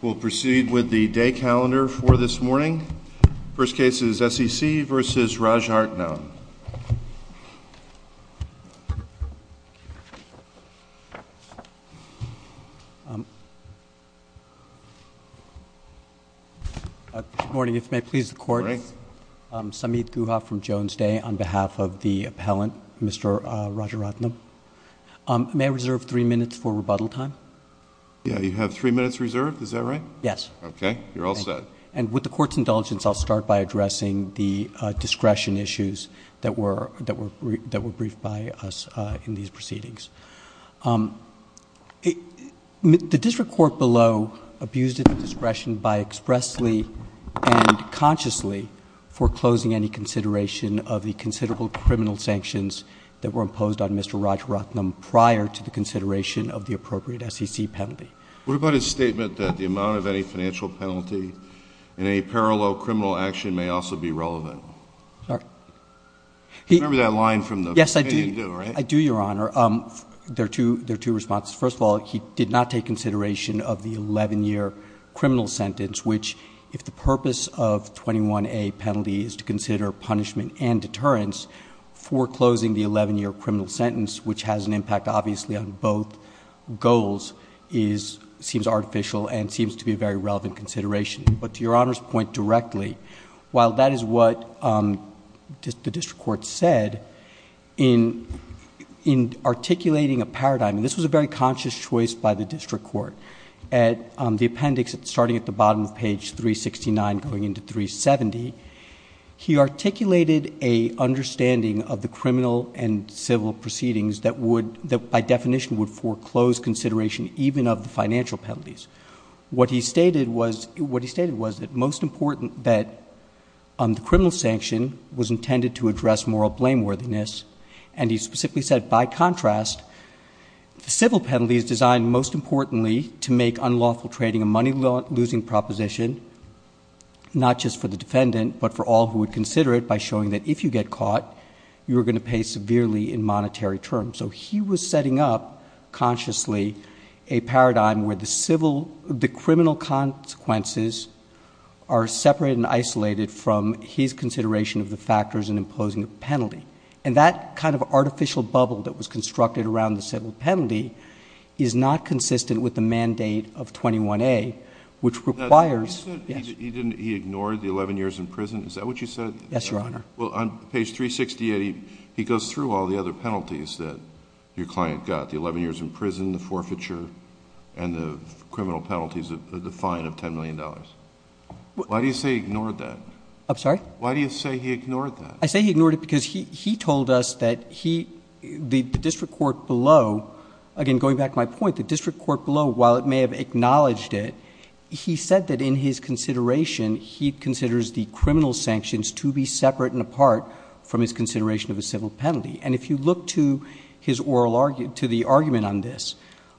We'll proceed with the day calendar for this morning. First case is SEC versus Rajaratnam. Good morning, if you may please the court. I'm Samit Guha from Jones Day on behalf of the appellant, Mr. Rajaratnam. May I reserve three minutes for rebuttal time? Yeah, you have three minutes reserved, is that right? Yes. Okay, you're all set. And with the court's indulgence I'll start by addressing the discretion issues that were that were that were briefed by us in these proceedings. The district court below abused its discretion by expressly and consciously foreclosing any consideration of the considerable criminal sanctions that were imposed on the SEC penalty. What about his statement that the amount of any financial penalty in a parallel criminal action may also be relevant? Sorry? Remember that line from the opinion due, right? Yes, I do. I do, Your Honor. There are two responses. First of all, he did not take consideration of the 11-year criminal sentence, which if the purpose of 21A penalty is to consider punishment and deterrence, foreclosing the 11-year criminal sentence, which has an impact obviously on both goals, seems artificial and seems to be a very relevant consideration. But to Your Honor's point directly, while that is what the district court said, in articulating a paradigm, and this was a very conscious choice by the district court, at the appendix starting at the bottom of page 369 going into 370, he articulated a that by definition would foreclose consideration even of the financial penalties. What he stated was that most important that the criminal sanction was intended to address moral blameworthiness, and he specifically said, by contrast, the civil penalty is designed most importantly to make unlawful trading a money-losing proposition, not just for the defendant, but for all who would consider it by showing that if you get caught, you are going to pay severely in monetary terms. So he was setting up consciously a paradigm where the criminal consequences are separated and isolated from his consideration of the factors in imposing a penalty. And that kind of artificial bubble that was constructed around the civil penalty is not consistent with the mandate of 21A, which requires... He ignored the 11 years in prison. Is that what you said? Yes, Your Honor. Well, on page 368, he goes through all the other penalties that your client got, the 11 years in prison, the forfeiture, and the criminal penalties, the fine of $10 million. Why do you say he ignored that? I'm sorry? Why do you say he ignored that? I say he ignored it because he told us that the district court below, again going back to my point, the district court below, while it may have acknowledged it, he said that in his consideration, he considers the criminal sanctions to be separate and apart from his consideration of a civil penalty. And if you look to his oral argument, to the argument on this,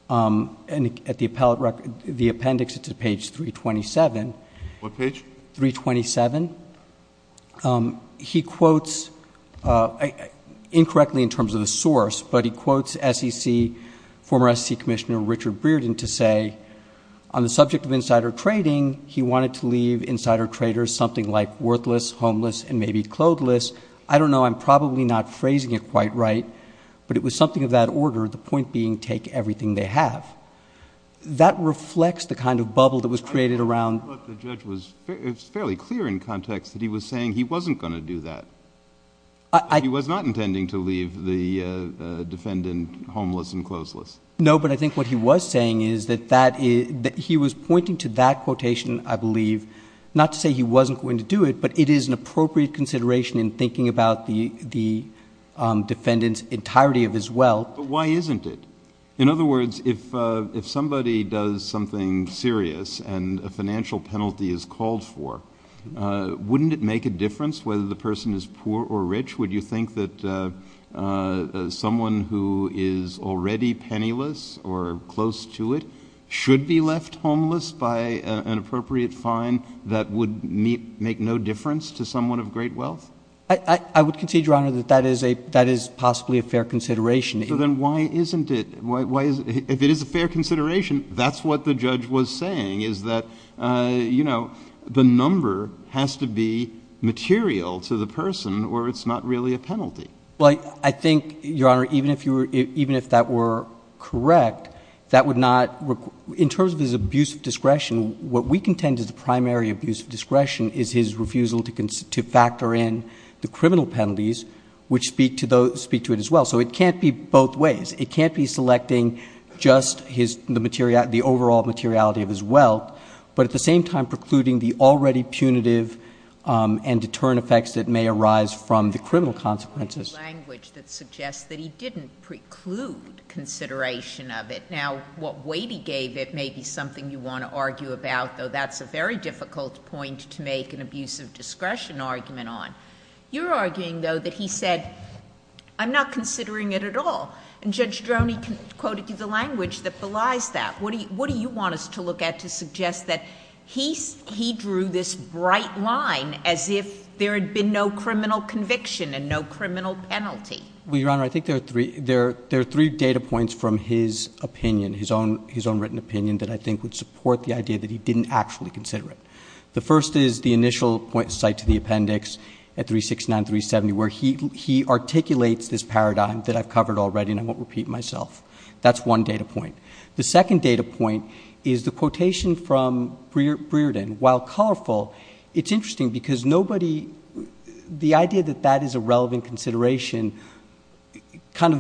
and at the appellate record, the appendix, it's at page 327. What page? 327. He quotes, incorrectly in terms of the source, but he quotes SEC... former SEC Commissioner Richard Breeden to say, on the subject of insider trading, he wanted to leave insider traders something like worthless, homeless, and maybe clotheless. I don't know. I'm probably not phrasing it quite right, but it was something of that order, the point being, take everything they have. That reflects the kind of bubble that was created around... But the judge was fairly clear in context that he was saying he wasn't going to do that. He was not intending to leave the defendant homeless and clotheless. No, but I think what he was saying is that he was pointing to that there's an appropriate consideration in thinking about the defendant's entirety of his wealth... But why isn't it? In other words, if somebody does something serious and a financial penalty is called for, wouldn't it make a difference whether the person is poor or rich? Would you think that someone who is already penniless or close to it should be left homeless by an appropriate fine that would make no difference to someone of great wealth? I would concede, Your Honor, that that is possibly a fair consideration. So then why isn't it? If it is a fair consideration, that's what the judge was saying, is that the number has to be material to the person or it's not really a penalty. Well, I think, Your Honor, even if that were correct, that would not... In terms of his abuse of discretion, what we contend is the primary abuse of discretion is his refusal to factor in the criminal penalties which speak to it as well. So it can't be both ways. It can't be selecting just the overall materiality of his wealth, but at the same time precluding the already punitive and deterrent effects that may arise from the criminal consequences.... language that suggests that he didn't preclude consideration of it. Now, what weight he gave it may be something you want to argue about, though that's a very difficult point to make an abuse of discretion argument on. You're arguing, though, that he said, I'm not considering it at all. And Judge Droney quoted you the language that belies that. What do you want us to look at to suggest that he drew this bright line as if there had been no criminal conviction and no criminal penalty? Well, Your Honor, I think there are three data points from his opinion, his own written opinion, that I think would support the idea that he didn't actually consider it. The first is the initial site to the appendix at 369-370 where he articulates this paradigm that I've covered already and I won't repeat myself. That's one data point. The second data point is the quotation from Brearden. While colorful, it's interesting because nobody... the idea that that is a relevant consideration kind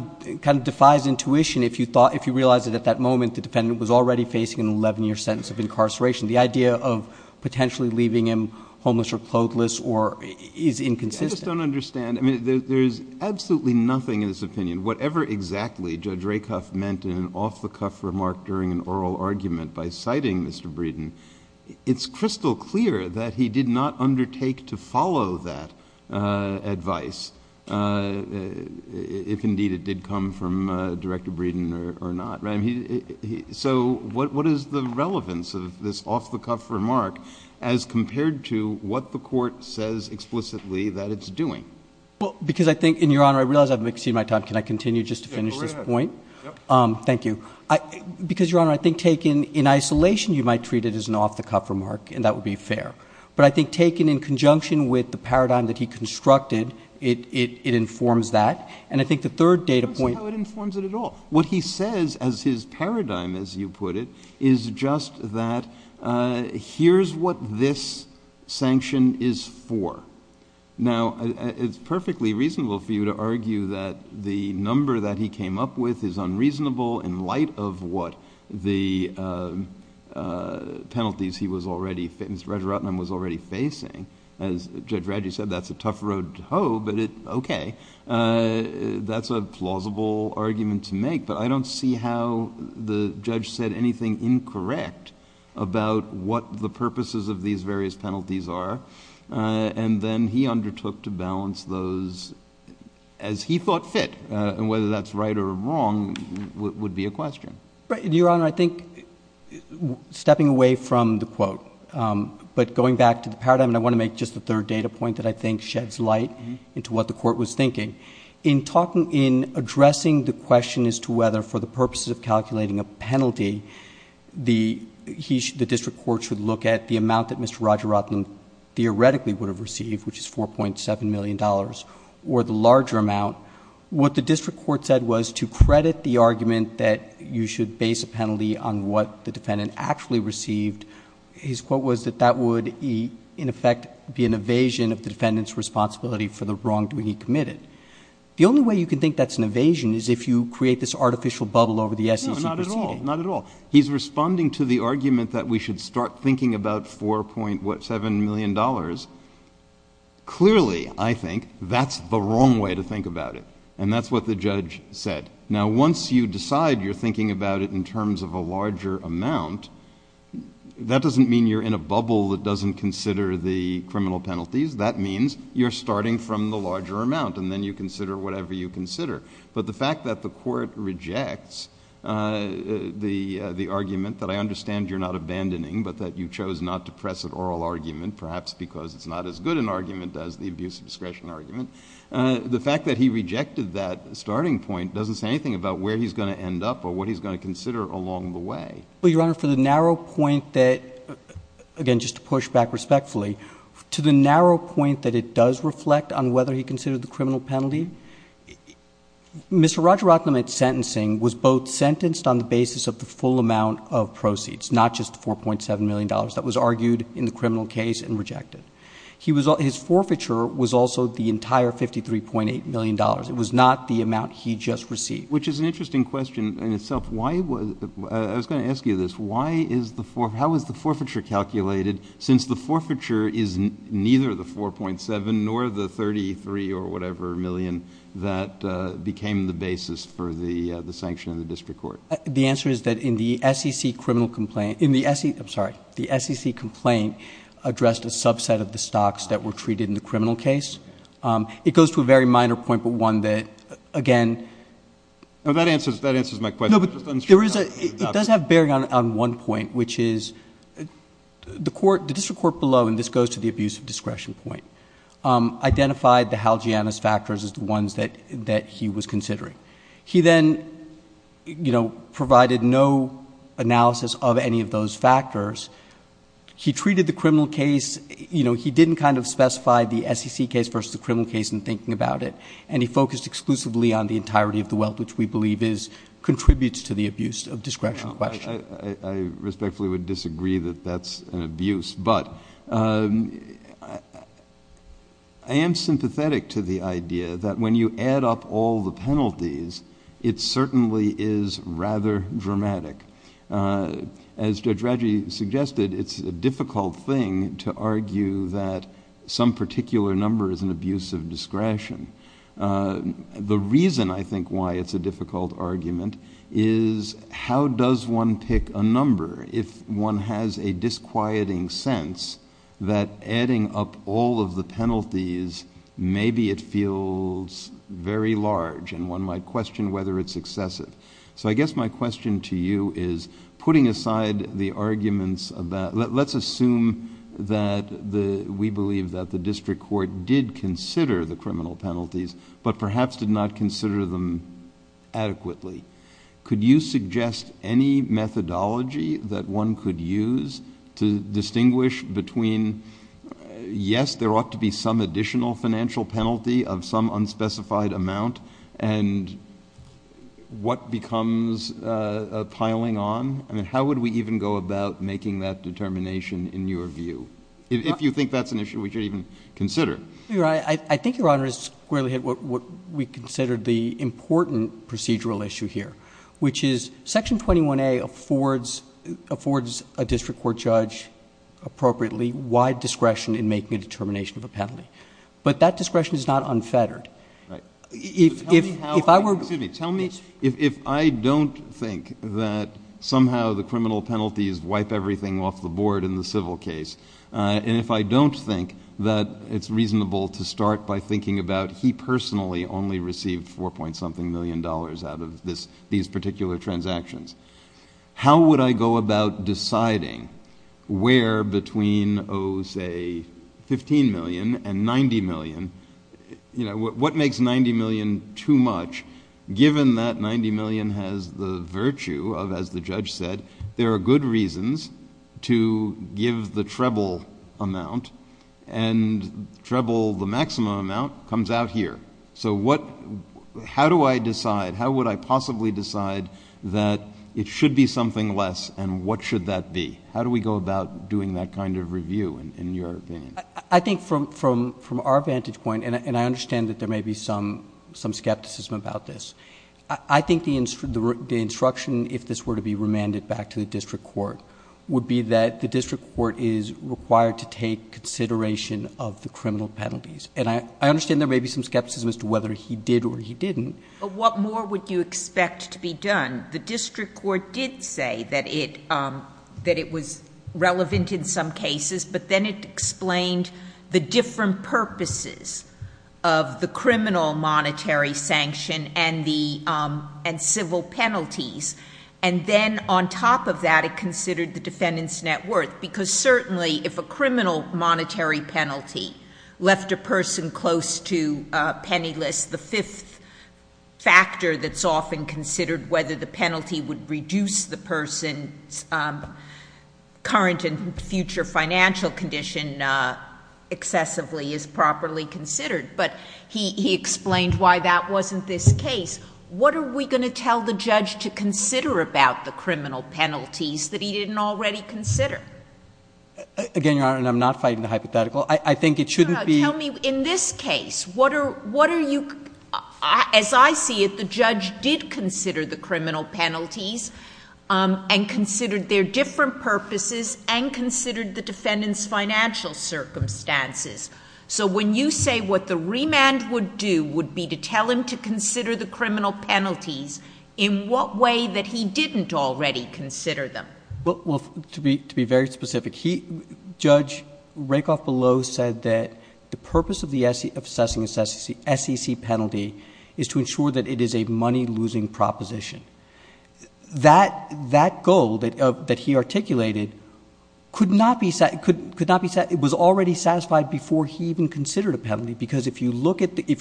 of defies intuition if you realize it at that moment the defendant was already facing an 11-year sentence of incarceration. The idea of potentially leaving him homeless or clotheless is inconsistent. I just don't understand. I mean, there's absolutely nothing in his opinion. Whatever exactly Judge Rakoff meant in an off-the-cuff remark during an oral argument by citing Mr. Breedon, it's crystal clear that he did not undertake to follow that advice if indeed it did come from Director Breedon or not. I So what is the relevance of this off-the-cuff remark as compared to what the court says explicitly that it's doing? Well, because I think... and Your Honor, I realize I've exceeded my time. Can I continue just to finish this point? Thank you. Because, Your Honor, I think taken in isolation you might treat it as an off-the-cuff remark and that would be fair. But I think taken in conjunction with the paradigm that he constructed, it informs that. And I think the third data What he says as his paradigm, as you put it, is just that here's what this sanction is for. Now, it's perfectly reasonable for you to argue that the number that he came up with is unreasonable in light of what the penalties he was already... Mr. Rajaratnam was already facing. As Judge Raji said, that's a tough road to hoe, but it... okay, that's a plausible argument to make. But I don't see how the judge said anything incorrect about what the purposes of these various penalties are. And then he undertook to balance those as he thought fit. And whether that's right or wrong would be a question. Your Honor, I think stepping away from the quote, but going back to the paradigm, and I want to make just the third data point that I think sheds light into what the Court was thinking. In addressing the question as to whether for the purposes of calculating a penalty, the district court should look at the amount that Mr. Rajaratnam theoretically would have received, which is $4.7 million, or the larger amount. What the district court said was to credit the argument that you should base a penalty on what the defendant actually received, his quote was that that would in effect be an evasion of the defendant's responsibility for the wrongdoing he committed. The only way you can think that's an evasion is if you create this artificial bubble over the essence of the proceeding. No, not at all. He's responding to the argument that we should start thinking about $4.7 million. Clearly, I think, that's the wrong way to think about it. And that's what the judge said. Now once you decide you're thinking about it in terms of a larger amount, that doesn't mean you're in a bubble that doesn't consider the criminal penalties. That means you're starting from the larger amount, and then you consider whatever you consider. But the fact that the Court rejects the argument that I understand you're not abandoning, but that you chose not to press an oral argument, perhaps because it's not as good an argument as the abuse of discretion argument, the fact that he rejected that starting point doesn't say anything about where he's going to end up or what he's going to consider along the way. Your Honor, for the narrow point that, again just to push back respectfully, to the narrow point that it does reflect on whether he considered the criminal penalty, Mr. Rajaratnam's sentencing was both sentenced on the basis of the full amount of proceeds, not just $4.7 million that was argued in the criminal case and rejected. His forfeiture was also the entire $53.8 million. It was not the amount he just received. Which is an interesting question in itself. I was going to ask you this. How is the forfeiture calculated since the forfeiture is neither the $4.7 million nor the $33 or whatever million that became the basis for the sanction in the District Court? The answer is that in the SEC complaint addressed a subset of the stocks that were treated in the criminal case. It goes to a very minor point, but one that again... That answers my question. No, but it does have bearing on one point, which is the District Court below, and this goes to the abuse of discretion point, identified the Hal Gianna's factors as the ones that he was considering. He then provided no analysis of any of those factors. He treated the criminal case... he didn't kind of specify the SEC case versus the criminal case in thinking about it, and he focused exclusively on the entirety of the wealth, which we believe is... contributes to the abuse of discretion question. I respectfully would disagree that that's an abuse, but I am sympathetic to the idea that when you add up all the penalties, it certainly is rather dramatic. As Judge Radji suggested, it's a difficult thing to argue that some particular number is an abuse of discretion. The reason I think why it's a difficult argument is how does one pick a number if one has a disquieting sense that adding up all of the penalties, maybe it feels very large and one might question whether it's excessive. So I guess my question to you is putting aside the arguments about... let's assume that we believe that the district court did consider the criminal penalties, but perhaps did not consider them adequately. Could you suggest any methodology that one could use to distinguish between, yes, there ought to be some additional financial penalty of some unspecified amount, and what becomes a piling on? How would we even go about making that determination in your view? If you think that's an issue we should even consider. I think, Your Honor, it's squarely what we considered the important procedural issue here, which is Section 21A affords a district court judge appropriately wide discretion in making a determination of a penalty, but that discretion is not unfettered. If I were... Excuse me. Tell me if I don't think that somehow the criminal penalties wipe everything off the board in the civil case, and if I don't think that it's reasonable to start by thinking about he personally only received four-point-something million dollars out of these particular transactions, how would I go about deciding where between, oh, say, fifteen million and ninety million... What makes ninety million too much, given that ninety million has the virtue of, as the judge said, there are good reasons to give the treble amount, and treble, the maximum amount, comes out here. So how do I decide? How would I possibly decide that it should be something less, and what should that be? How do we go about doing that kind of review, in your opinion? I think from our vantage point, and I understand that there may be some skepticism about this, I think the instruction, if this were to be remanded back to the district court, would be that the district court is required to take consideration of the criminal penalties. And I understand there may be some skepticism, but what more would you expect to be done? The district court did say that it was relevant in some cases, but then it explained the different purposes of the criminal monetary sanction and civil penalties. And then on top of that, it considered the defendant's net worth, because certainly if a criminal monetary penalty left a person close to penniless, the fifth factor that's often considered, whether the penalty would reduce the person's current and future financial condition excessively, is properly considered. But he explained why that wasn't this case. What are we going to tell the judge to consider about the criminal penalties that he didn't already consider? Again, Your Honor, and I'm not fighting the hypothetical, I think it shouldn't be... As I see it, the judge did consider the criminal penalties and considered their different purposes and considered the defendant's financial circumstances. So when you say what the remand would do would be to tell him to consider the criminal penalties, in what way that he didn't already consider them? Well, to be very specific, Judge Rakoff-Below said that the purpose of the SEC penalty is to ensure that it is a money-losing proposition. That goal that he articulated could not be... it was already satisfied before he even considered a penalty, because if you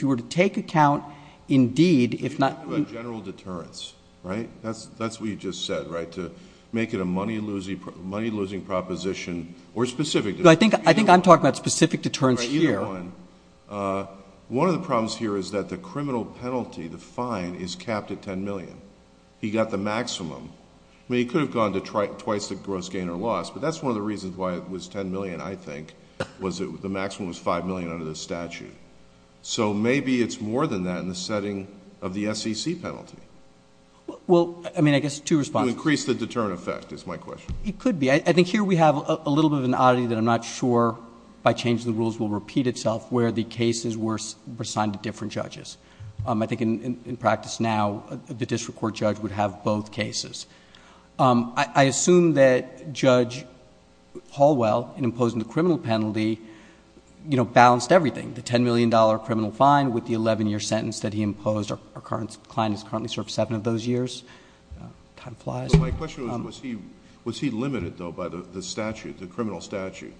were to take account indeed, if not... A general deterrence, right? That's what you just said, right? To make it a money-losing proposition or specific... I think I'm talking about specific deterrence here. One of the problems here is that the criminal penalty, the fine, is capped at $10 million. He got the maximum. He could have gone to twice the gross gain or loss, but that's one of the reasons why it was $10 million, I think, was that the maximum was $5 million under the statute. So maybe it's more than that in the setting of the SEC penalty. Well, I mean, I guess two responses. To increase the deterrent effect is my question. It could be. I think here we have a little bit of an oddity that I'm not sure by changing the rules will repeat itself where the cases were assigned to different judges. I think in practice now, the district court judge would have both cases. I assume that Judge Hallwell, in imposing the criminal penalty, balanced everything. The $10 million criminal fine with the eleven year sentence that he imposed. Our client is currently served seven of those years. Time flies. My question was, was he limited though by the statute, the criminal statute,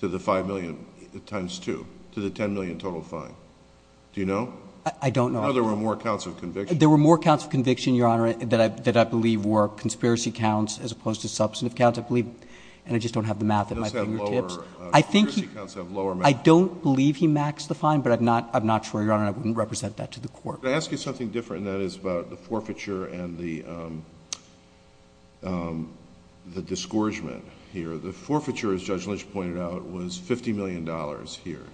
to the $5 million times two, to the $10 million total fine? Do you know? I don't know. I thought there were more counts of conviction. There were more counts of conviction, Your Honor, that I believe were conspiracy counts as opposed to substantive counts, I believe. And I just don't have the math at my fingertips. Those have lower... I think he... Conspiracy counts have lower... I don't believe he maxed the fine, but I'm not sure, Your Honor. I wouldn't represent that to the court. Can I ask you something different, and that is about the forfeiture and the disgorgement here. The forfeiture, as Judge Lynch pointed out, was $50 million here.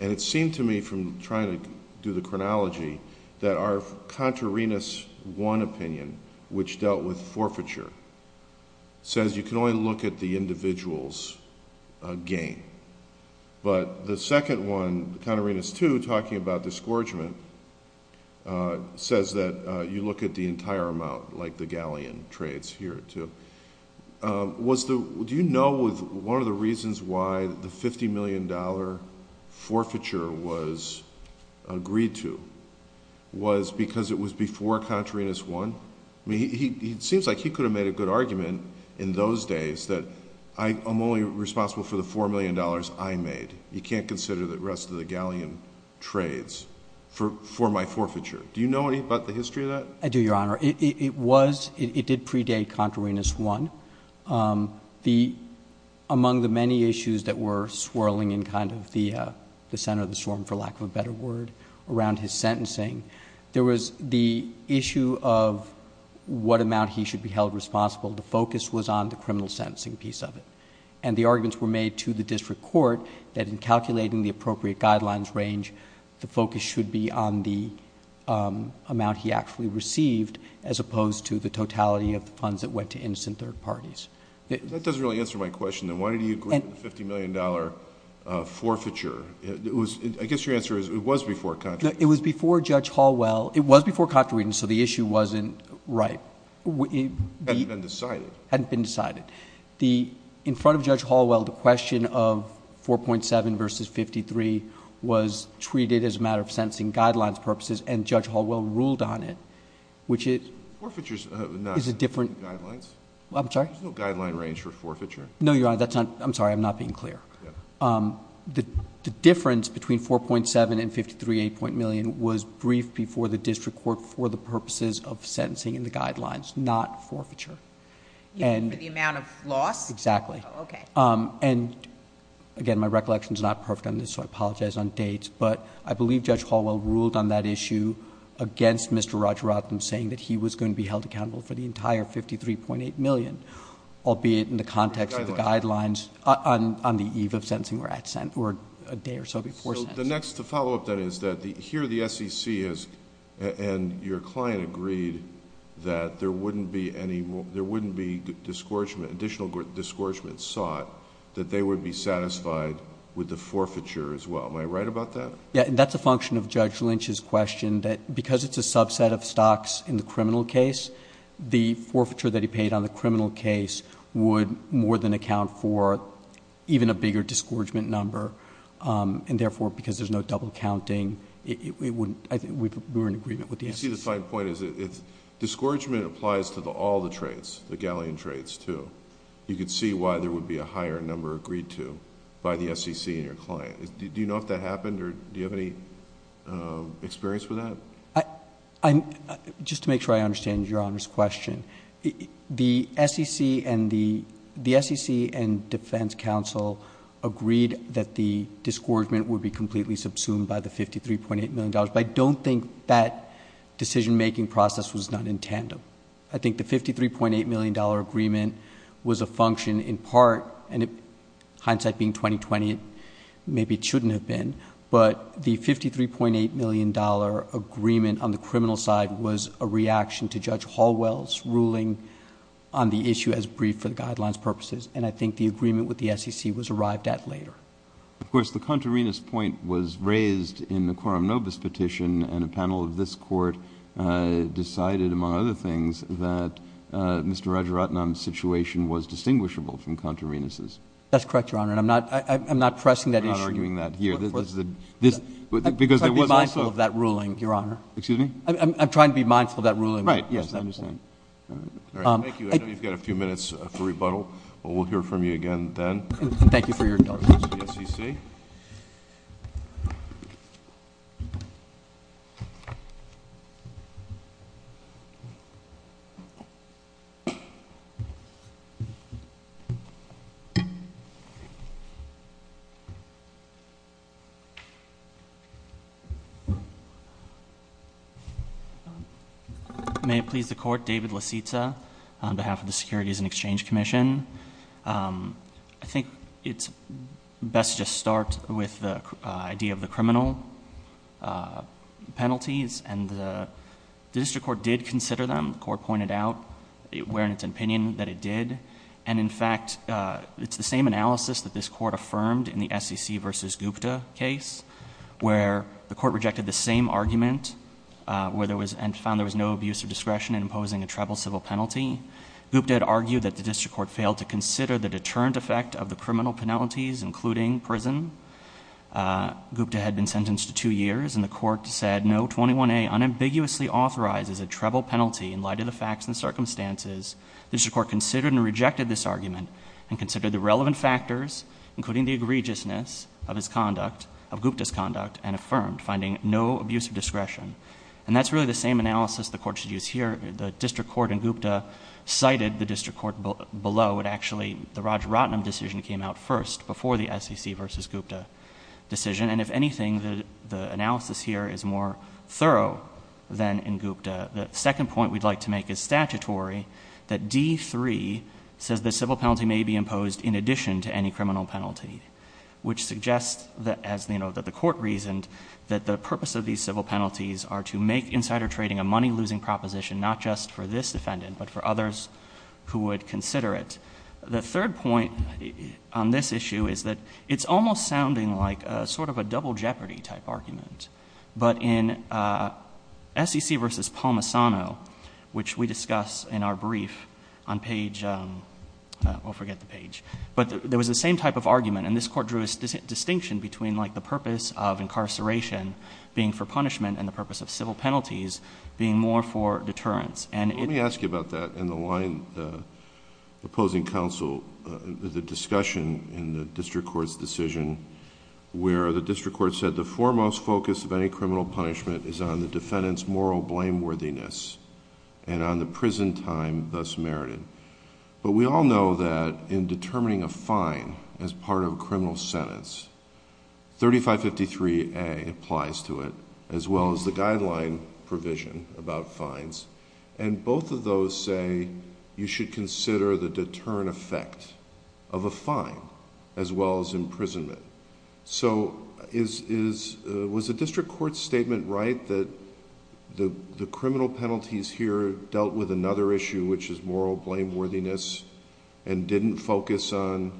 And it seemed to me, from trying to do the chronology, that our contrariness one opinion, which dealt with forfeiture, says you can only look at the individual's gain. But the second one, contrariness two, talking about disgorgement, says that you look at the entire amount, like the galleon trades here, too. Do you know if one of the reasons why the $50 million forfeiture was agreed to was because it was before contrariness one? It seems like he could have made a good argument in those days that I'm only responsible for the $4 million I made. You can't consider the rest of the galleon trades for my forfeiture. Do you know anything about the history of that? I do, Your Honor. It did predate contrariness one. Among the many issues that were swirling in the center of the storm, for lack of a better word, around his sentencing, there was the issue of what amount he should be held responsible. The focus was on the criminal sentencing piece of it. And the arguments were made to the district court that in calculating the appropriate opposed to the totality of the funds that went to innocent third parties. That doesn't really answer my question, then. Why did he agree to the $50 million forfeiture? I guess your answer is it was before contrariness. It was before Judge Hallwell. It was before contrariness, so the issue wasn't right. It hadn't been decided. It hadn't been decided. In front of Judge Hallwell, the question of 4.7 versus 53 was treated as a matter of sentencing guidelines purposes, and... Forfeiture is not...... different.... guidelines. I'm sorry. There's no guideline range for forfeiture. No, Your Honor. I'm sorry. I'm not being clear. Yeah. The difference between 4.7 and 53, 8. million was briefed before the district court for the purposes of sentencing and the guidelines, not forfeiture. And... For the amount of loss? Exactly. Oh, okay. And again, my recollection is not perfect on this so I apologize on dates, but I believe Judge Hallwell ruled on that issue against Mr. Rajarathan saying that he was going to be held accountable for the entire 53.8 million, albeit in the context of the guidelines on the eve of sentencing or a day or so before sentencing. The next... the follow-up then is that here the SEC is... and your client agreed that there wouldn't be any... there wouldn't be discouragement... additional discouragement sought that they would be satisfied with the forfeiture as well. Am I right about that? Yeah. And that's a function of Judge Lynch's question that because it's a subset of stocks in the criminal case, the forfeiture that he paid on the criminal case would more than account for even a bigger discouragement number and therefore, because there's no double counting, it wouldn't... I think we're in agreement with the SEC. You see the fine point is that discouragement applies to all the traits, the galleon traits too. You could see why there would be a higher number agreed to by the SEC and your client. Do you know if that happened or do you have any experience with that? Just to make sure I understand your Honor's question, the SEC and Defense Counsel agreed that the discouragement would be completely subsumed by the $53.8 million, but I don't think that decision-making process was done in tandem. I think the $53.8 million agreement was a function in part, and the $53.8 million agreement on the criminal side was a reaction to Judge Hallwell's ruling on the issue as briefed for the Guidelines purposes, and I think the agreement with the SEC was arrived at later. Of course, the contrariness point was raised in the Quorum Novus Petition and a panel of this Court decided among other things that Mr. Rajaratnam's situation was distinguishable from contrarinesses. That's correct, Your Honor, and I'm not pressing that issue... I'm trying to be mindful of that ruling, Your Honor. Excuse me? I'm trying to be mindful of that ruling. Right. Yes, I understand. All right. Thank you. I know you've got a few minutes for rebuttal, but we'll hear from you again then. Thank you for your indulgence. The SEC. May it please the Court, David LaCitta on behalf of the Securities and Exchange Commission. I think it's best to just start with the idea of the criminal penalties, and the district court did consider them. The court pointed out in its opinion that it did, and in fact, it's the same analysis that this court affirmed in the SEC v. Gupta case where the court rejected the same argument and found there was no abuse of discretion in imposing a tribal civil penalty. Gupta had argued that the district court failed to consider the deterrent effect of the criminal penalties, including prison. Gupta had been sentenced to two years, and the court said, No. 21A unambiguously authorizes a tribal penalty in light of the facts and circumstances. The district court considered and rejected this argument and considered the relevant factors, including the egregiousness of Gupta's conduct and affirmed, finding no abuse of discretion, and that's really the same analysis the court should use here. The district court in Gupta cited the district court below, but actually the Raj Ratnam decision came out first, before the SEC v. Gupta decision, and if anything, the analysis here is more thorough than in Gupta. The second point we'd like to make is statutory, that D.3 says the civil penalty may be imposed in addition to any criminal penalty, which suggests that, as the court reasoned, that the purpose of these civil penalties are to make insider trading a money-losing proposition, not just for this defendant, but for others who would consider it. The third point on this issue is that it's almost sounding like sort of a double jeopardy type argument, but in SEC v. Palmisano, which we discuss in our brief on page, we'll forget the page, but there was the same type of argument, being for punishment and the purpose of civil penalties being more for deterrence. It... Let me ask you about that in the line... the opposing counsel, the discussion in the district court's decision, where the district court said the foremost focus of any criminal punishment is on the defendant's moral blameworthiness and on the prison time thus merited, but we all know that in determining a criminal penalty, there's a lot that applies to it, as well as the guideline provision about fines, and both of those say you should consider the deterrent effect of a fine, as well as imprisonment. Was the district court's statement right that the criminal penalties here dealt with another issue, which is moral blameworthiness, and didn't focus on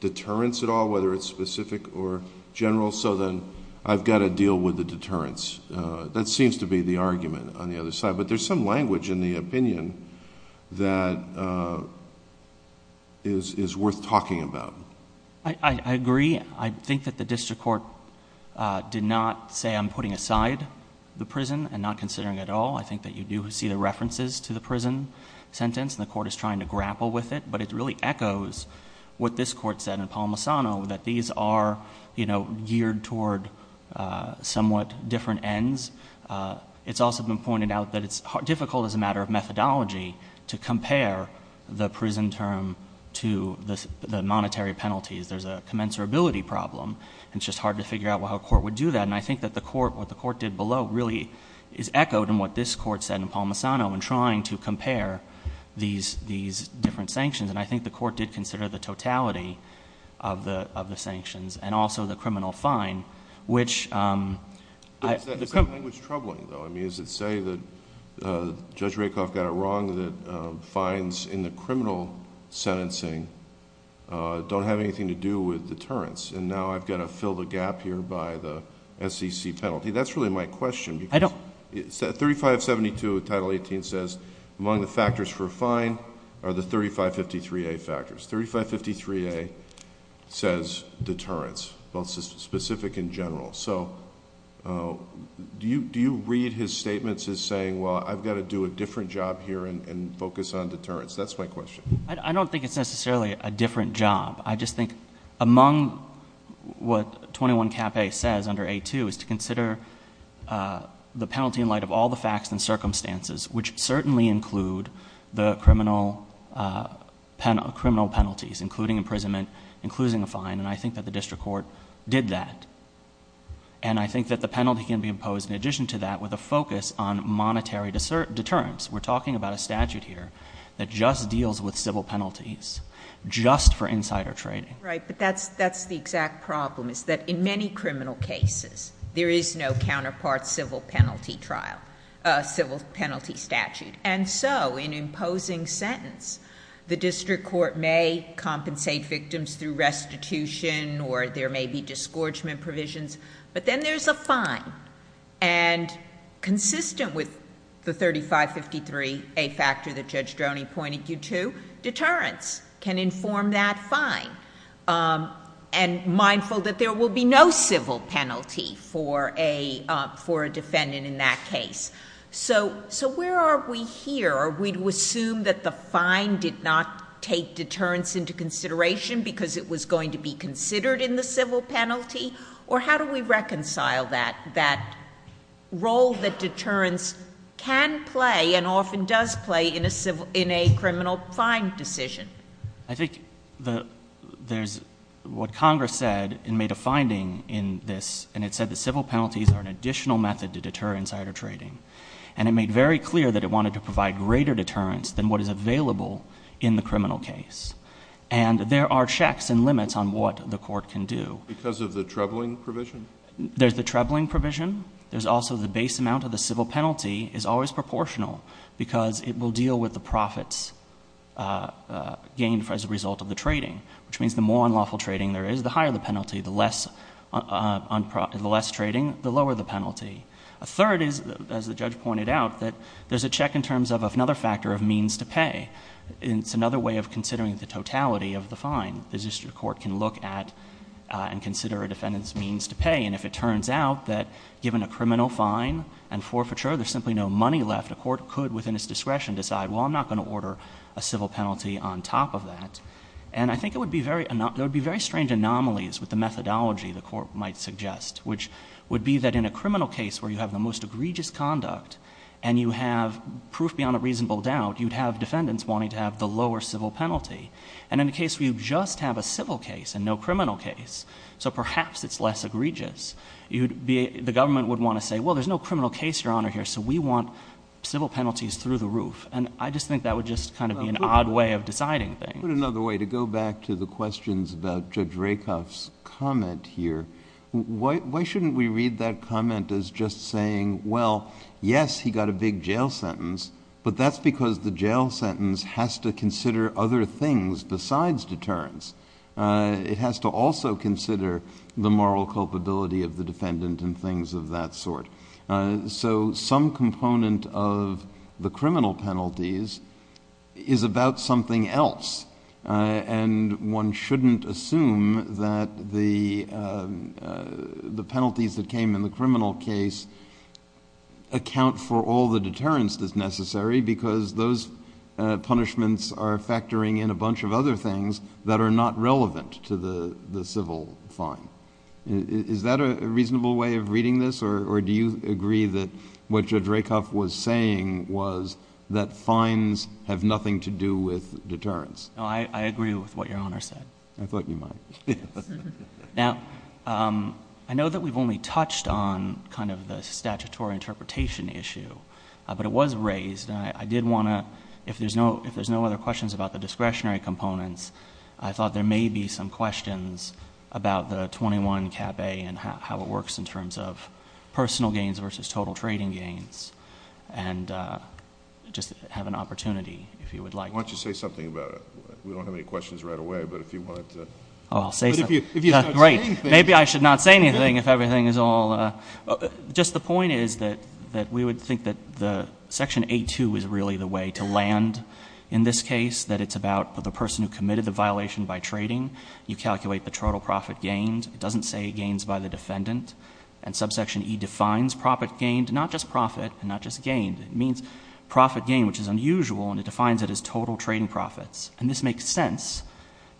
deterrence at all, whether it's specific or general, so then I've got to deal with the deterrence? That seems to be the argument on the other side, but there's some language in the opinion that is worth talking about. I agree. I think that the district court did not say I'm putting aside the prison and not considering it at all. I think that you do see the references to the prison sentence, and the court is trying to grapple with it, but it really echoes what this court said in somewhat different ends. It's also been pointed out that it's difficult as a matter of methodology to compare the prison term to the monetary penalties. There's a commensurability problem, and it's just hard to figure out how a court would do that, and I think that what the court did below really is echoed in what this court said in Palmisano in trying to compare these different sanctions, and I think the court did consider the totality of the sanctions and also the criminal fine, which..... What is that language troubling though? Is it to say that Judge Rakoff got it wrong that fines in the criminal sentencing don't have anything to do with deterrence, and now, I've got to fill the gap here by the SEC penalty? That's really my question, because... I don't...... 3572 of Title 18 says, among the factors for a fine are the 3553A factors. 3553A says deterrence, both specific and general. Do you read his statements as saying, well, I've got to do a different job here and focus on deterrence? That's my question. I don't think it's necessarily a different job. I just think among what 21 Cap A says under A2 is to consider the penalty in light of all the facts and circumstances, which certainly include the criminal penalties, including imprisonment, including a fine, and I think that the district court did that. I think that the penalty can be imposed in addition to that with a focus on monetary deterrence. We're talking about a statute here that just deals with civil penalties, just for insider trading. Right, but that's the exact problem, is that in many criminal cases, there is no counterpart civil penalty trial... civil penalty statute, and so in imposing sentence, the district court may compensate victims through restitution or there may be disgorgement provisions, but then there's a fine. Consistent with the 3553A factor that Judge Droney pointed you to, deterrence can inform that fine and mindful that there will be no civil penalty for a defendant in that case. Where are we here? Are we to assume that the fine did not take deterrence into consideration because it was going to be considered in the civil penalty, or how do we reconcile that role that deterrence can play and often does play in a criminal fine decision? I think there's... what Congress said and made a finding in this, and it said that civil penalties are an additional method to deter insider trading, and it made very clear that it wanted to provide greater deterrence than what is available in the criminal case, and there are checks and limits on what the court can do. Because of the trebling provision? There's the trebling provision. There's also the base amount of the civil penalty is always proportional because it will deal with the profits gained as a result of the trading, which means the more unlawful trading there is, the higher the penalty, the less trading, the lower the penalty. A third is, as the judge pointed out, that there's a check in terms of another factor of means to pay. It's another way of considering the totality of the fine. The district court can look at and consider a defendant's means to pay, and if it turns out that given a criminal fine and forfeiture, there's simply no money left, a court could within its discretion decide, well, I'm not going to order a civil penalty on top of that. And I think it would be very... there would be very strange anomalies with the methodology the court might suggest, which would be that in a criminal case where you have the most egregious conduct and you have proof beyond a reasonable doubt, you'd have defendants wanting to have the lower civil penalty. And in a case where you just have a civil case and no criminal case, so perhaps it's less egregious, the government would want to say, well, there's no criminal case, Your Honor, here, so we want civil penalties through the roof. And I just think that would just kind of be an odd way of deciding things. Let me put it another way. To go back to the questions about Judge Rakoff's comment here, why shouldn't we read that comment as just saying, well, yes, he got a big jail sentence, but that's because the jail sentence has to consider other things besides deterrence. It has to also consider the moral culpability of the defendant and things of that sort. So some component of the criminal penalties is about something else. And one shouldn't assume that the penalties that came in the criminal case account for all the deterrence that's necessary because those punishments are factoring in a bunch of other things that are not relevant to the civil fine. Is that a reasonable way of reading this, or do you agree that what Judge Rakoff was saying was that fines have nothing to do with deterrence? No, I agree with what Your Honor said. I thought you might. Now, I know that we've only touched on kind of the statutory interpretation issue, but it was raised, and I did want to, if there's no other questions about the discretionary components, I thought there may be some questions about the 21 Cap A and how it works in terms of personal gains versus total trading gains, and just have an opportunity if you would like to. Why don't you say something about it? We don't have any questions right away, but if you want to... Oh, I'll say something. But if you're not saying anything... Great. Maybe I should not say anything if everything is all... Just the point is that we would think that the Section 8-2 is really the way to land in this case, that it's about the person who committed the violation by trading. You calculate the total profit gained. It doesn't say gains by the defendant. And Subsection E defines profit gained, not just profit, and not just gained. It means profit gained, which is unusual, and it defines it as total trading profits. And this makes sense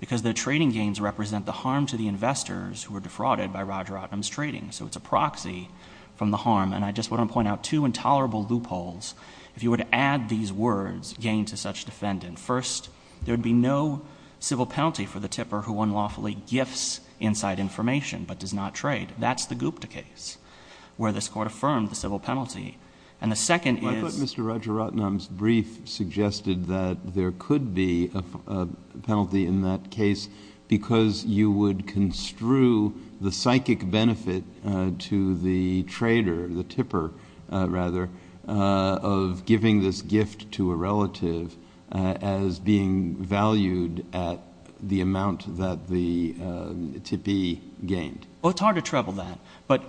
because the trading gains represent the harm to the investors who were defrauded by Roger Ottom's trading. So it's a proxy from the harm. And I just want to point out two intolerable loopholes. If you were to add these words, gain to such defendant, first, there'd be no civil penalty for the tipper who unlawfully gifts inside information but does not trade. That's the Gupta case where this Court affirmed the civil penalty. And the second is... I thought Mr. Roger Ottom's brief suggested that there could be a penalty in that case because you would construe the psychic benefit to the trader, the tipper, rather, of giving this gift to a relative as being valued at the amount that the tippee gained. Well, it's hard to treble that. But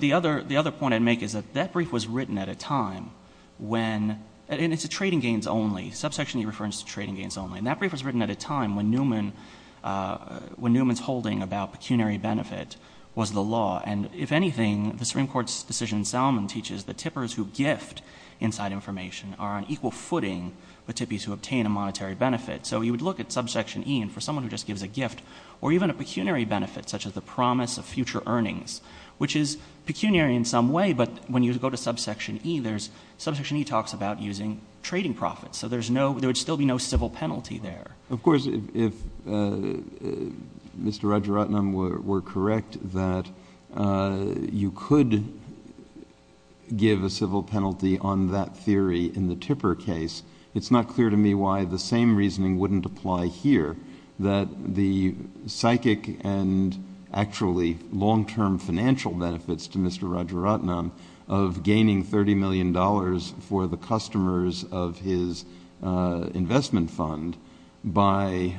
the other point I'd make is that that brief was written at a time when... and it's a trading gains only. Subsection E refers to trading gains only. And that brief was written at a time when Newman's holding about pecuniary benefit was the law. And if anything, the Supreme Court's decision in Salomon teaches that tippers who gift inside information are on equal footing with tippees who obtain a monetary benefit. So you would look at Subsection E, and for someone who just gives a gift, or even a pecuniary benefit such as the promise of future earnings, which is pecuniary in some way, but when you go to Subsection E, there's... Subsection E talks about using trading profits. So there's no... there would still be no civil penalty there. Of course, if Mr. Rajaratnam were correct, that you could give a civil penalty on that theory in the tipper case. It's not clear to me why the same reasoning wouldn't apply here, that the psychic and actually long-term financial benefits to Mr. Rajaratnam of gaining $30 million for the investment fund by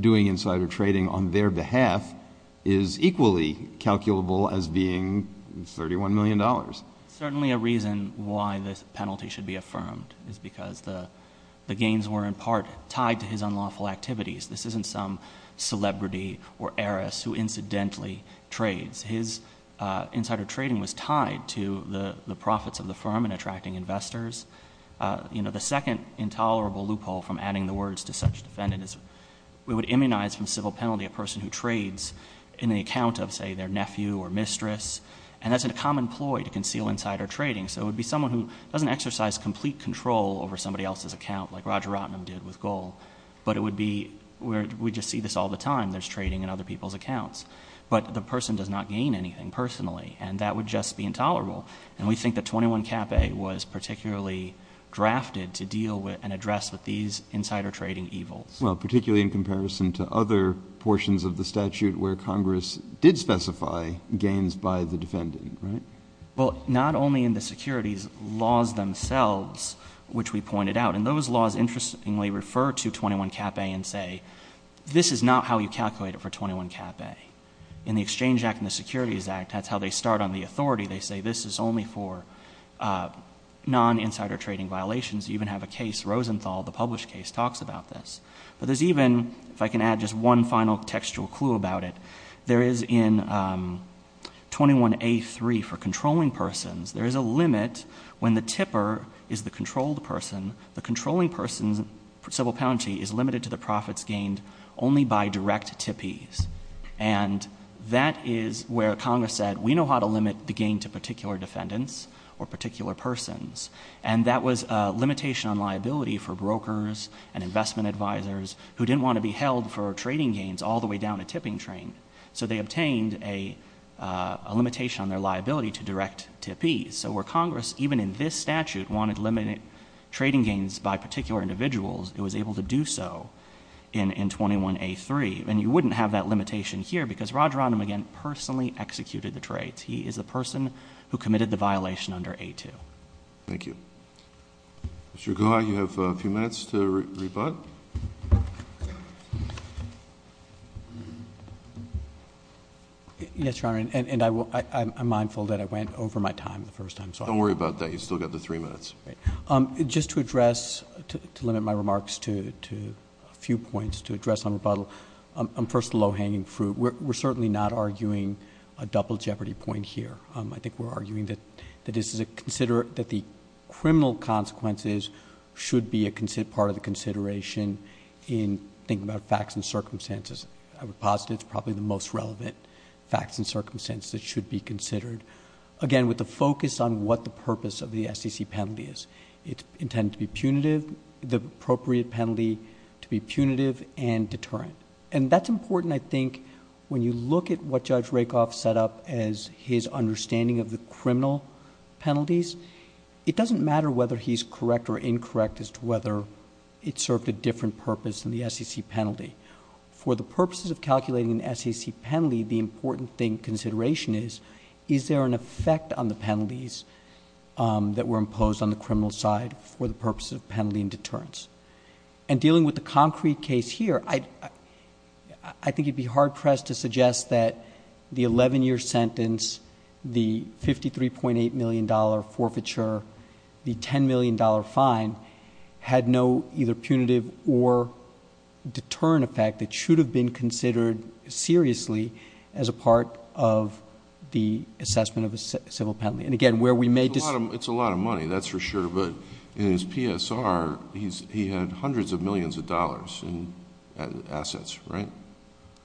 doing insider trading on their behalf is equally calculable as being $31 million. It's certainly a reason why this penalty should be affirmed, is because the gains were in part tied to his unlawful activities. This isn't some celebrity or heiress who incidentally trades. His insider trading was tied to the profits of the firm in attracting investors. You know, the second intolerable loophole from adding the words to such defendant is we would immunize from civil penalty a person who trades in the account of, say, their nephew or mistress, and that's a common ploy to conceal insider trading. So it would be someone who doesn't exercise complete control over somebody else's account like Rajaratnam did with Goel, but it would be... we just see this all the time. There's trading in other people's accounts. But the person does not gain anything personally, and that would just be intolerable, and we think that 21 Cap A was particularly drafted to deal with and address with these insider trading evils. Well, particularly in comparison to other portions of the statute where Congress did specify gains by the defendant, right? Well, not only in the securities laws themselves, which we pointed out, and those laws interestingly refer to 21 Cap A and say, this is not how you calculate it for 21 Cap A. In the Exchange Act and the Securities Act, that's how they start on the authority. They say this is only for non-insider trading violations. You even have a case, Rosenthal, the published case, talks about this. But there's even, if I can add just one final textual clue about it, there is in 21A3 for controlling persons, there is a limit when the tipper is the controlled person, the controlling person's civil penalty is limited to the profits gained only by direct tippees. And that is where Congress said, we know how to limit the gain to particular defendants or particular persons. And that was a limitation on liability for brokers and investment advisors who didn't want to be held for trading gains all the way down a tipping train. So they obtained a limitation on their liability to direct tippees. So where Congress, even in this statute, wanted to limit trading gains by particular individuals, it was able to do so in 21A3. And you wouldn't have that limitation here because Roger Rodham, again, personally executed the trade. He is the person who committed the violation under A2. Thank you. Mr. Guha, you have a few minutes to rebut. Yes, Your Honor. And I'm mindful that I went over my time the first time. Don't worry about that. You've still got the three minutes. Just to address, to limit my remarks to a few points, to address on rebuttal, first the low-hanging fruit. We're certainly not arguing a double jeopardy point here. I think we're arguing that the criminal consequences should be a part of the consideration in thinking about facts and circumstances. I would posit it's probably the most relevant facts and circumstances that should be considered. Again, with the focus on what the purpose of the SEC penalty is. It's intended to be punitive, the appropriate penalty to be punitive and deterrent. And that's important, I think, when you look at what Judge Rakoff set up as his understanding of the criminal penalties. It doesn't matter whether he's correct or incorrect as to whether it served a different purpose than the SEC penalty. For the purposes of calculating the SEC penalty, the important consideration is, is there an effect on the penalties that were imposed on the criminal side for the purposes of penalty and deterrence? And dealing with the concrete case here, I think you'd be hard-pressed to suggest that the 11-year sentence, the $53.8 million forfeiture, the $10 million fine had no either punitive or deterrent effect that should have been considered seriously as a part of the assessment of a civil penalty. And again, where we may... It's a lot of money, that's for sure, but in his PSR, he had hundreds of millions of dollars in assets, right?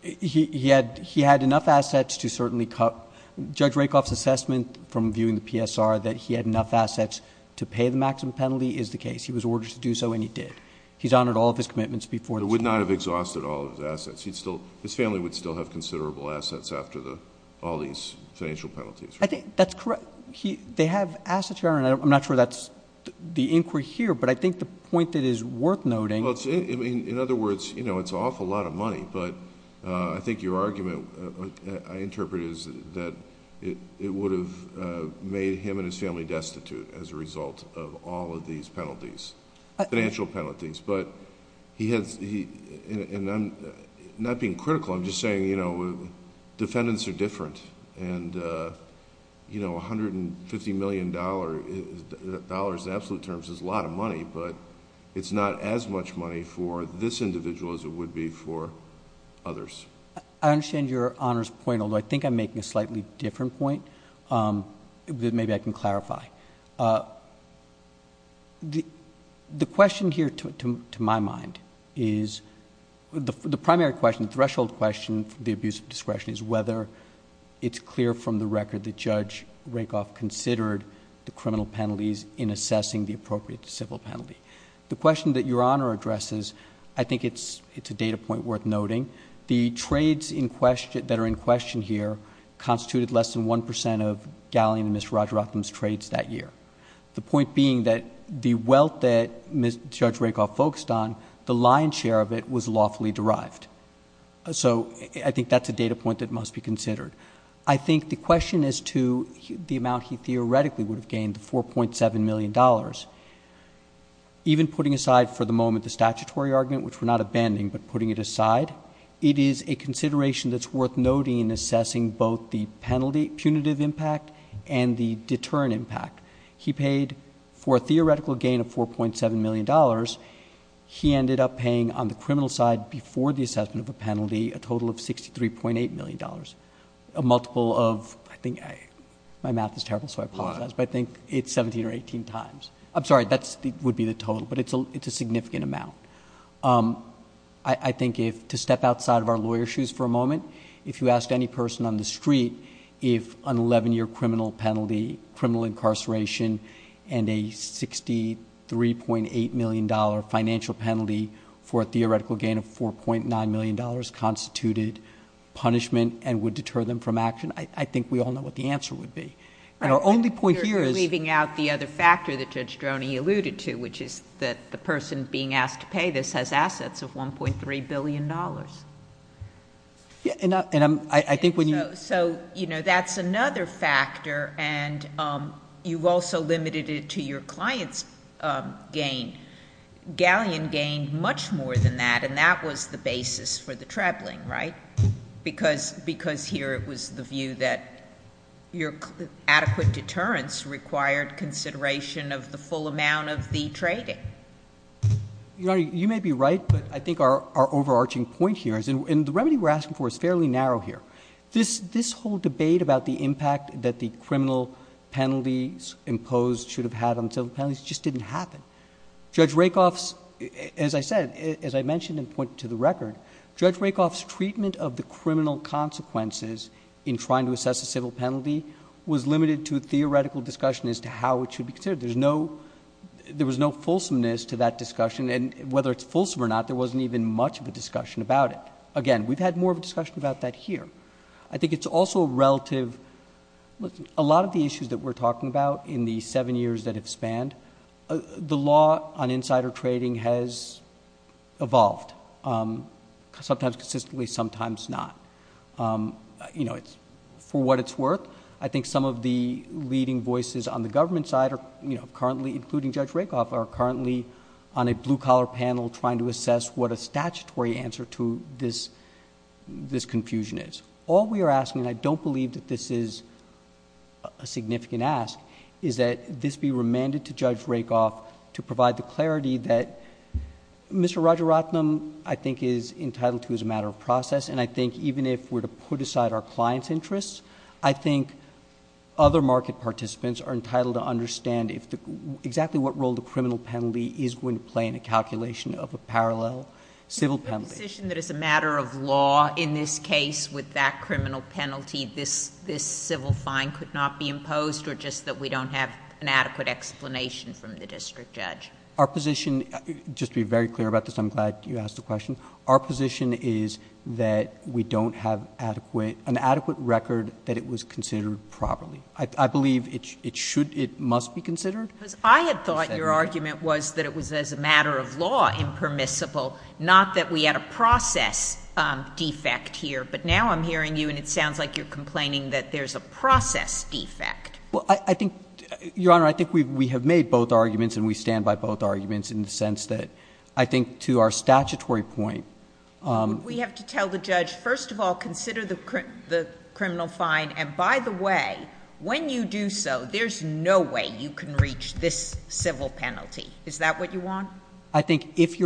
He had enough assets to certainly... Judge Rakoff's assessment from viewing the PSR that he had enough assets to pay the maximum penalty is the case. He was ordered to do so and he did. He's honored all of his commitments before... He would not have exhausted all of his assets. His family would still have considerable assets after all these financial penalties, right? That's correct. They have assets here, and I'm not sure that's the inquiry here, but I think the point that is worth noting... Well, in other words, it's an awful lot of money, but I think your argument, I interpret it as that it would have made him and his family destitute as a result of all of these penalties, financial penalties, and I'm not being critical, I'm just saying defendants are different and $150 million in absolute terms is a lot of money, but it's not as much money for this individual as it would be for others. I understand your Honor's point, although I think I'm making a slightly different point that maybe I can clarify. The question here, to my mind, is... the primary question, the threshold question for the abuse of discretion is whether it's clear from the record that Judge Rakoff considered the criminal penalties in assessing the appropriate civil penalty. The question that your Honor addresses, I think it's a data point worth noting. The trades that are in question here constituted less than 1% of Galleon and Mr. Rajaratnam's trades that year. The point being that the wealth that Judge Rakoff focused on, the lion's share of it was lawfully derived. So I think that's a data point that must be considered. I think the question as to the amount he theoretically would have gained, the $4.7 million, even putting aside for the moment the statutory argument, which we're not abandoning, but it is a consideration that's worth noting in assessing both the penalty punitive impact and the deterrent impact. He paid for a theoretical gain of $4.7 million. He ended up paying on the criminal side, before the assessment of a penalty, a total of $63.8 million. A multiple of, I think, my math is terrible so I apologize, but I think it's 17 or 18 times. I'm sorry, that would be the total, but it's a significant amount. I think if, to step outside of our lawyer shoes for a moment, if you ask any person on the street, if an 11 year criminal penalty, criminal incarceration, and a $63.8 million financial penalty for a theoretical gain of $4.9 million constituted punishment and would deter them from action. I think we all know what the answer would be. And our only point here is- Okay, this has assets of $1.3 billion. Yeah, and I think when you- So, that's another factor and you've also limited it to your client's gain. Galleon gained much more than that and that was the basis for the traveling, right? Because here it was the view that your adequate deterrence required consideration of the full amount of the trading. You may be right, but I think our overarching point here, and the remedy we're asking for is fairly narrow here. This whole debate about the impact that the criminal penalties imposed should have had on civil penalties just didn't happen. Judge Rakoff's, as I said, as I mentioned and pointed to the record, Judge Rakoff's treatment of the criminal consequences in trying to assess a civil penalty was limited to theoretical discussion as to how it should be considered. There was no fulsomeness to that discussion and whether it's fulsome or not, there wasn't even much of a discussion about it. Again, we've had more of a discussion about that here. I think it's also a relative, a lot of the issues that we're talking about in the seven years that have spanned, the law on insider trading has evolved, sometimes consistently, sometimes not. For what it's worth, I think some of the leading voices on the government side are currently, including Judge Rakoff, are currently on a blue collar panel trying to assess what a statutory answer to this confusion is. All we are asking, and I don't believe that this is a significant ask, is that this be remanded to Judge Rakoff to provide the clarity that Mr. Roger Rotnam, I think, is entitled to as a matter of process, and I think even if we're to put aside our client's interests, I think other market participants are entitled to understand exactly what role the criminal penalty is going to play in a calculation of a parallel civil penalty. A position that is a matter of law in this case with that criminal penalty, this civil fine could not be imposed or just that we don't have an adequate explanation from the district judge. Our position, just to be very clear about this, I'm glad you asked the question. Our position is that we don't have an adequate record that it was considered properly. I believe it should, it must be considered. Because I had thought your argument was that it was as a matter of law impermissible, not that we had a process defect here. But now I'm hearing you and it sounds like you're complaining that there's a process defect. Well, I think, your honor, I think we have made both arguments and we stand by both arguments in the sense that I think to our statutory point. We have to tell the judge, first of all, consider the criminal fine. And by the way, when you do so, there's no way you can reach this civil penalty. Is that what you want? I think if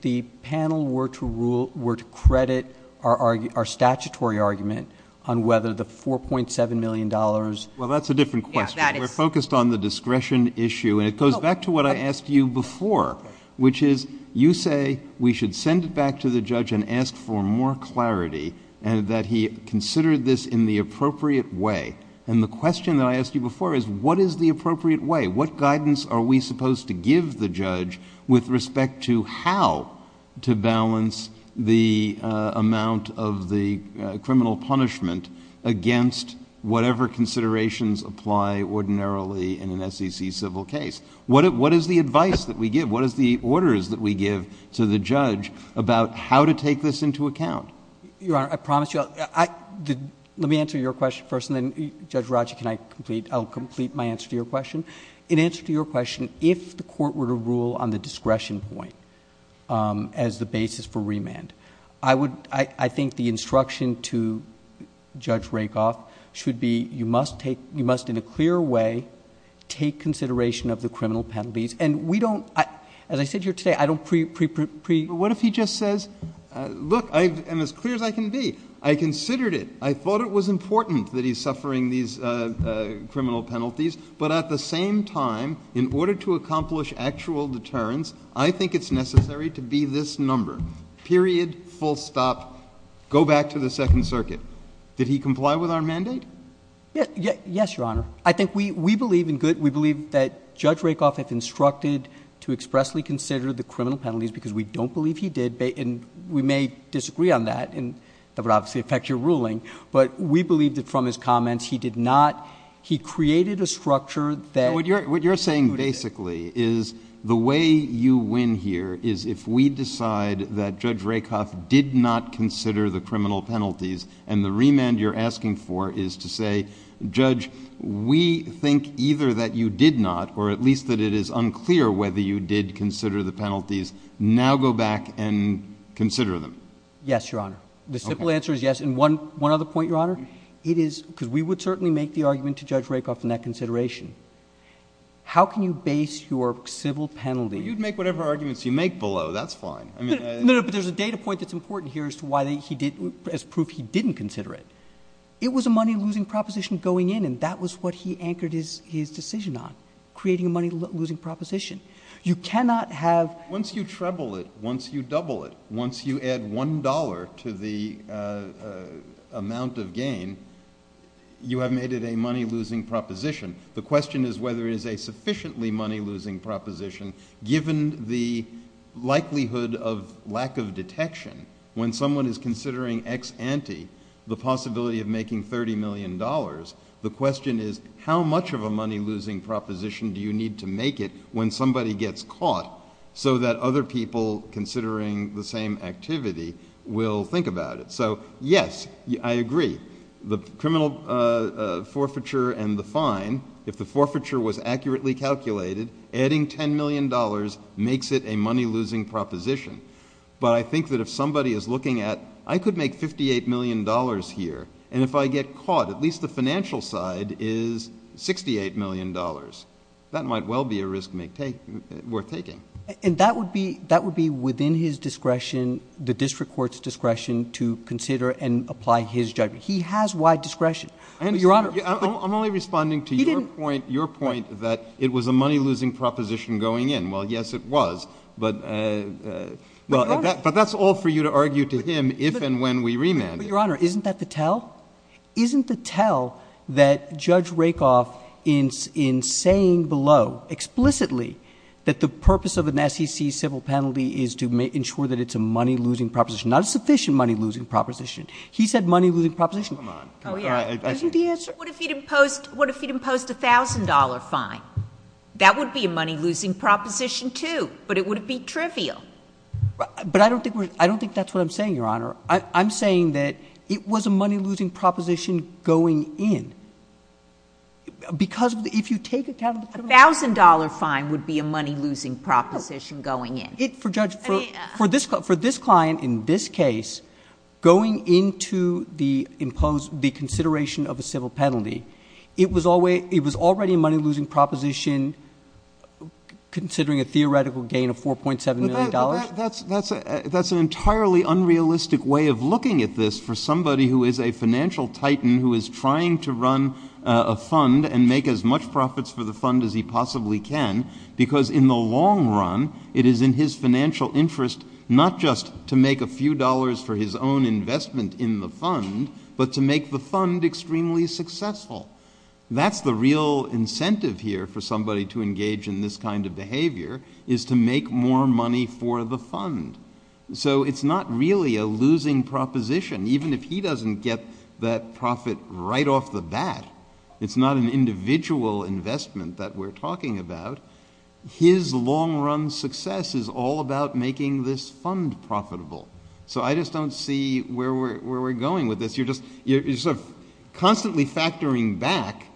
the panel were to credit our statutory argument on whether the $4.7 million. Well, that's a different question. We're focused on the discretion issue and it goes back to what I asked you before. Which is, you say we should send it back to the judge and ask for more clarity. And that he considered this in the appropriate way. And the question that I asked you before is, what is the appropriate way? What guidance are we supposed to give the judge with respect to how to balance the amount of the criminal punishment against whatever considerations apply ordinarily in an SEC civil case? What is the advice that we give? What is the orders that we give to the judge about how to take this into account? Your honor, I promise you, let me answer your question first and then Judge Rogers can I complete, I'll complete my answer to your question. In answer to your question, if the court were to rule on the discretion point as the basis for remand. I think the instruction to Judge Rakoff should be, you must in a clear way take consideration of the criminal penalties. And we don't, as I said here today, I don't pre- What if he just says, look, I am as clear as I can be. I considered it. I thought it was important that he's suffering these criminal penalties. But at the same time, in order to accomplish actual deterrence, I think it's necessary to be this number. Period, full stop, go back to the second circuit. Did he comply with our mandate? Yes, your honor. I think we believe in good, we believe that Judge Rakoff has instructed to expressly consider the criminal penalties because we don't believe he did. And we may disagree on that, and that would obviously affect your ruling. But we believe that from his comments, he did not, he created a structure that- What you're saying basically is the way you win here is if we decide that Judge Rakoff did not consider the criminal penalties. And the remand you're asking for is to say, judge, we think either that you did not, or at least that it is unclear whether you did consider the penalties, now go back and consider them. Yes, your honor. The simple answer is yes. And one other point, your honor, it is, because we would certainly make the argument to Judge Rakoff in that consideration. How can you base your civil penalty- You'd make whatever arguments you make below, that's fine. I mean- No, no, but there's a data point that's important here as to why he didn't, as proof he didn't consider it. It was a money losing proposition going in, and that was what he anchored his decision on, creating a money losing proposition. You cannot have- Once you treble it, once you double it, once you add $1 to the amount of gain, you have made it a money losing proposition. The question is whether it is a sufficiently money losing proposition, given the likelihood of lack of detection when someone is considering ex ante the possibility of making $30 million. The question is, how much of a money losing proposition do you need to make it when somebody gets caught, so that other people considering the same activity will think about it? So, yes, I agree. The criminal forfeiture and the fine, if the forfeiture was accurately calculated, adding $10 million makes it a money losing proposition. But I think that if somebody is looking at, I could make $58 million here, and if I get caught, at least the financial side is $68 million. That might well be a risk worth taking. And that would be within his discretion, the district court's discretion, to consider and apply his judgment. He has wide discretion. Your Honor- I'm only responding to your point that it was a money losing proposition going in. Well, yes it was, but that's all for you to argue to him if and when we remand it. But, Your Honor, isn't that the tell? Isn't the tell that Judge Rakoff, in saying below, explicitly, that the purpose of an SEC civil penalty is to ensure that it's a money losing proposition. Not a sufficient money losing proposition. He said money losing proposition. Come on. Isn't the answer? What if he'd imposed a $1,000 fine? That would be a money losing proposition too, but it would be trivial. But I don't think that's what I'm saying, Your Honor. I'm saying that it was a money losing proposition going in. Because if you take account of the- A $1,000 fine would be a money losing proposition going in. For this client, in this case, going into the consideration of a civil penalty. It was already a money losing proposition, considering a theoretical gain of $4.7 million. That's an entirely unrealistic way of looking at this for somebody who is a financial titan, who is trying to run a fund and make as much profits for the fund as he possibly can. Because in the long run, it is in his financial interest not just to make a few dollars for his own investment in the fund, but to make the fund extremely successful. That's the real incentive here for somebody to engage in this kind of behavior, is to make more money for the fund. So it's not really a losing proposition, even if he doesn't get that profit right off the bat. It's not an individual investment that we're talking about. His long run success is all about making this fund profitable. So I just don't see where we're going with this. You're just constantly factoring back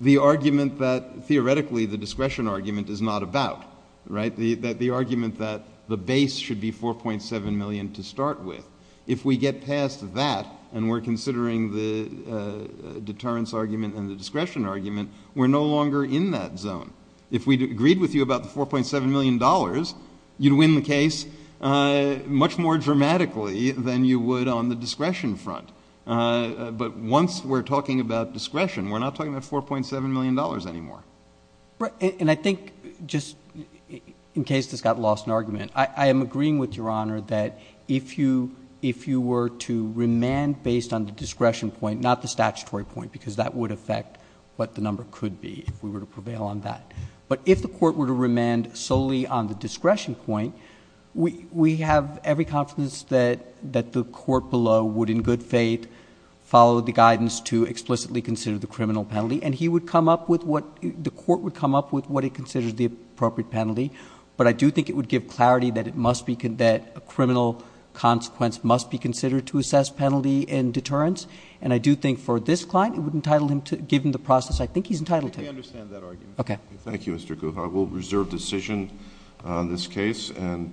the argument that theoretically the discretion argument is not about, right? The argument that the base should be $4.7 million to start with. If we get past that and we're considering the deterrence argument and the discretion argument, we're no longer in that zone. If we'd agreed with you about the $4.7 million, you'd win the case much more dramatically than you would on the discretion front. But once we're talking about discretion, we're not talking about $4.7 million anymore. And I think, just in case this got lost in argument, I am agreeing with your honor that if you were to remand based on the discretion point, not the statutory point, because that would affect what the number could be if we were to prevail on that. But if the court were to remand solely on the discretion point, we have every confidence that the court below would in good faith follow the guidance to explicitly consider the criminal penalty. And he would come up with what, the court would come up with what it considers the appropriate penalty. But I do think it would give clarity that a criminal consequence must be considered to assess penalty and deterrence. And I do think for this client, it would entitle him to, given the process, I think he's entitled to. I understand that argument. Okay. Thank you, Mr. Guha. We'll reserve decision on this case.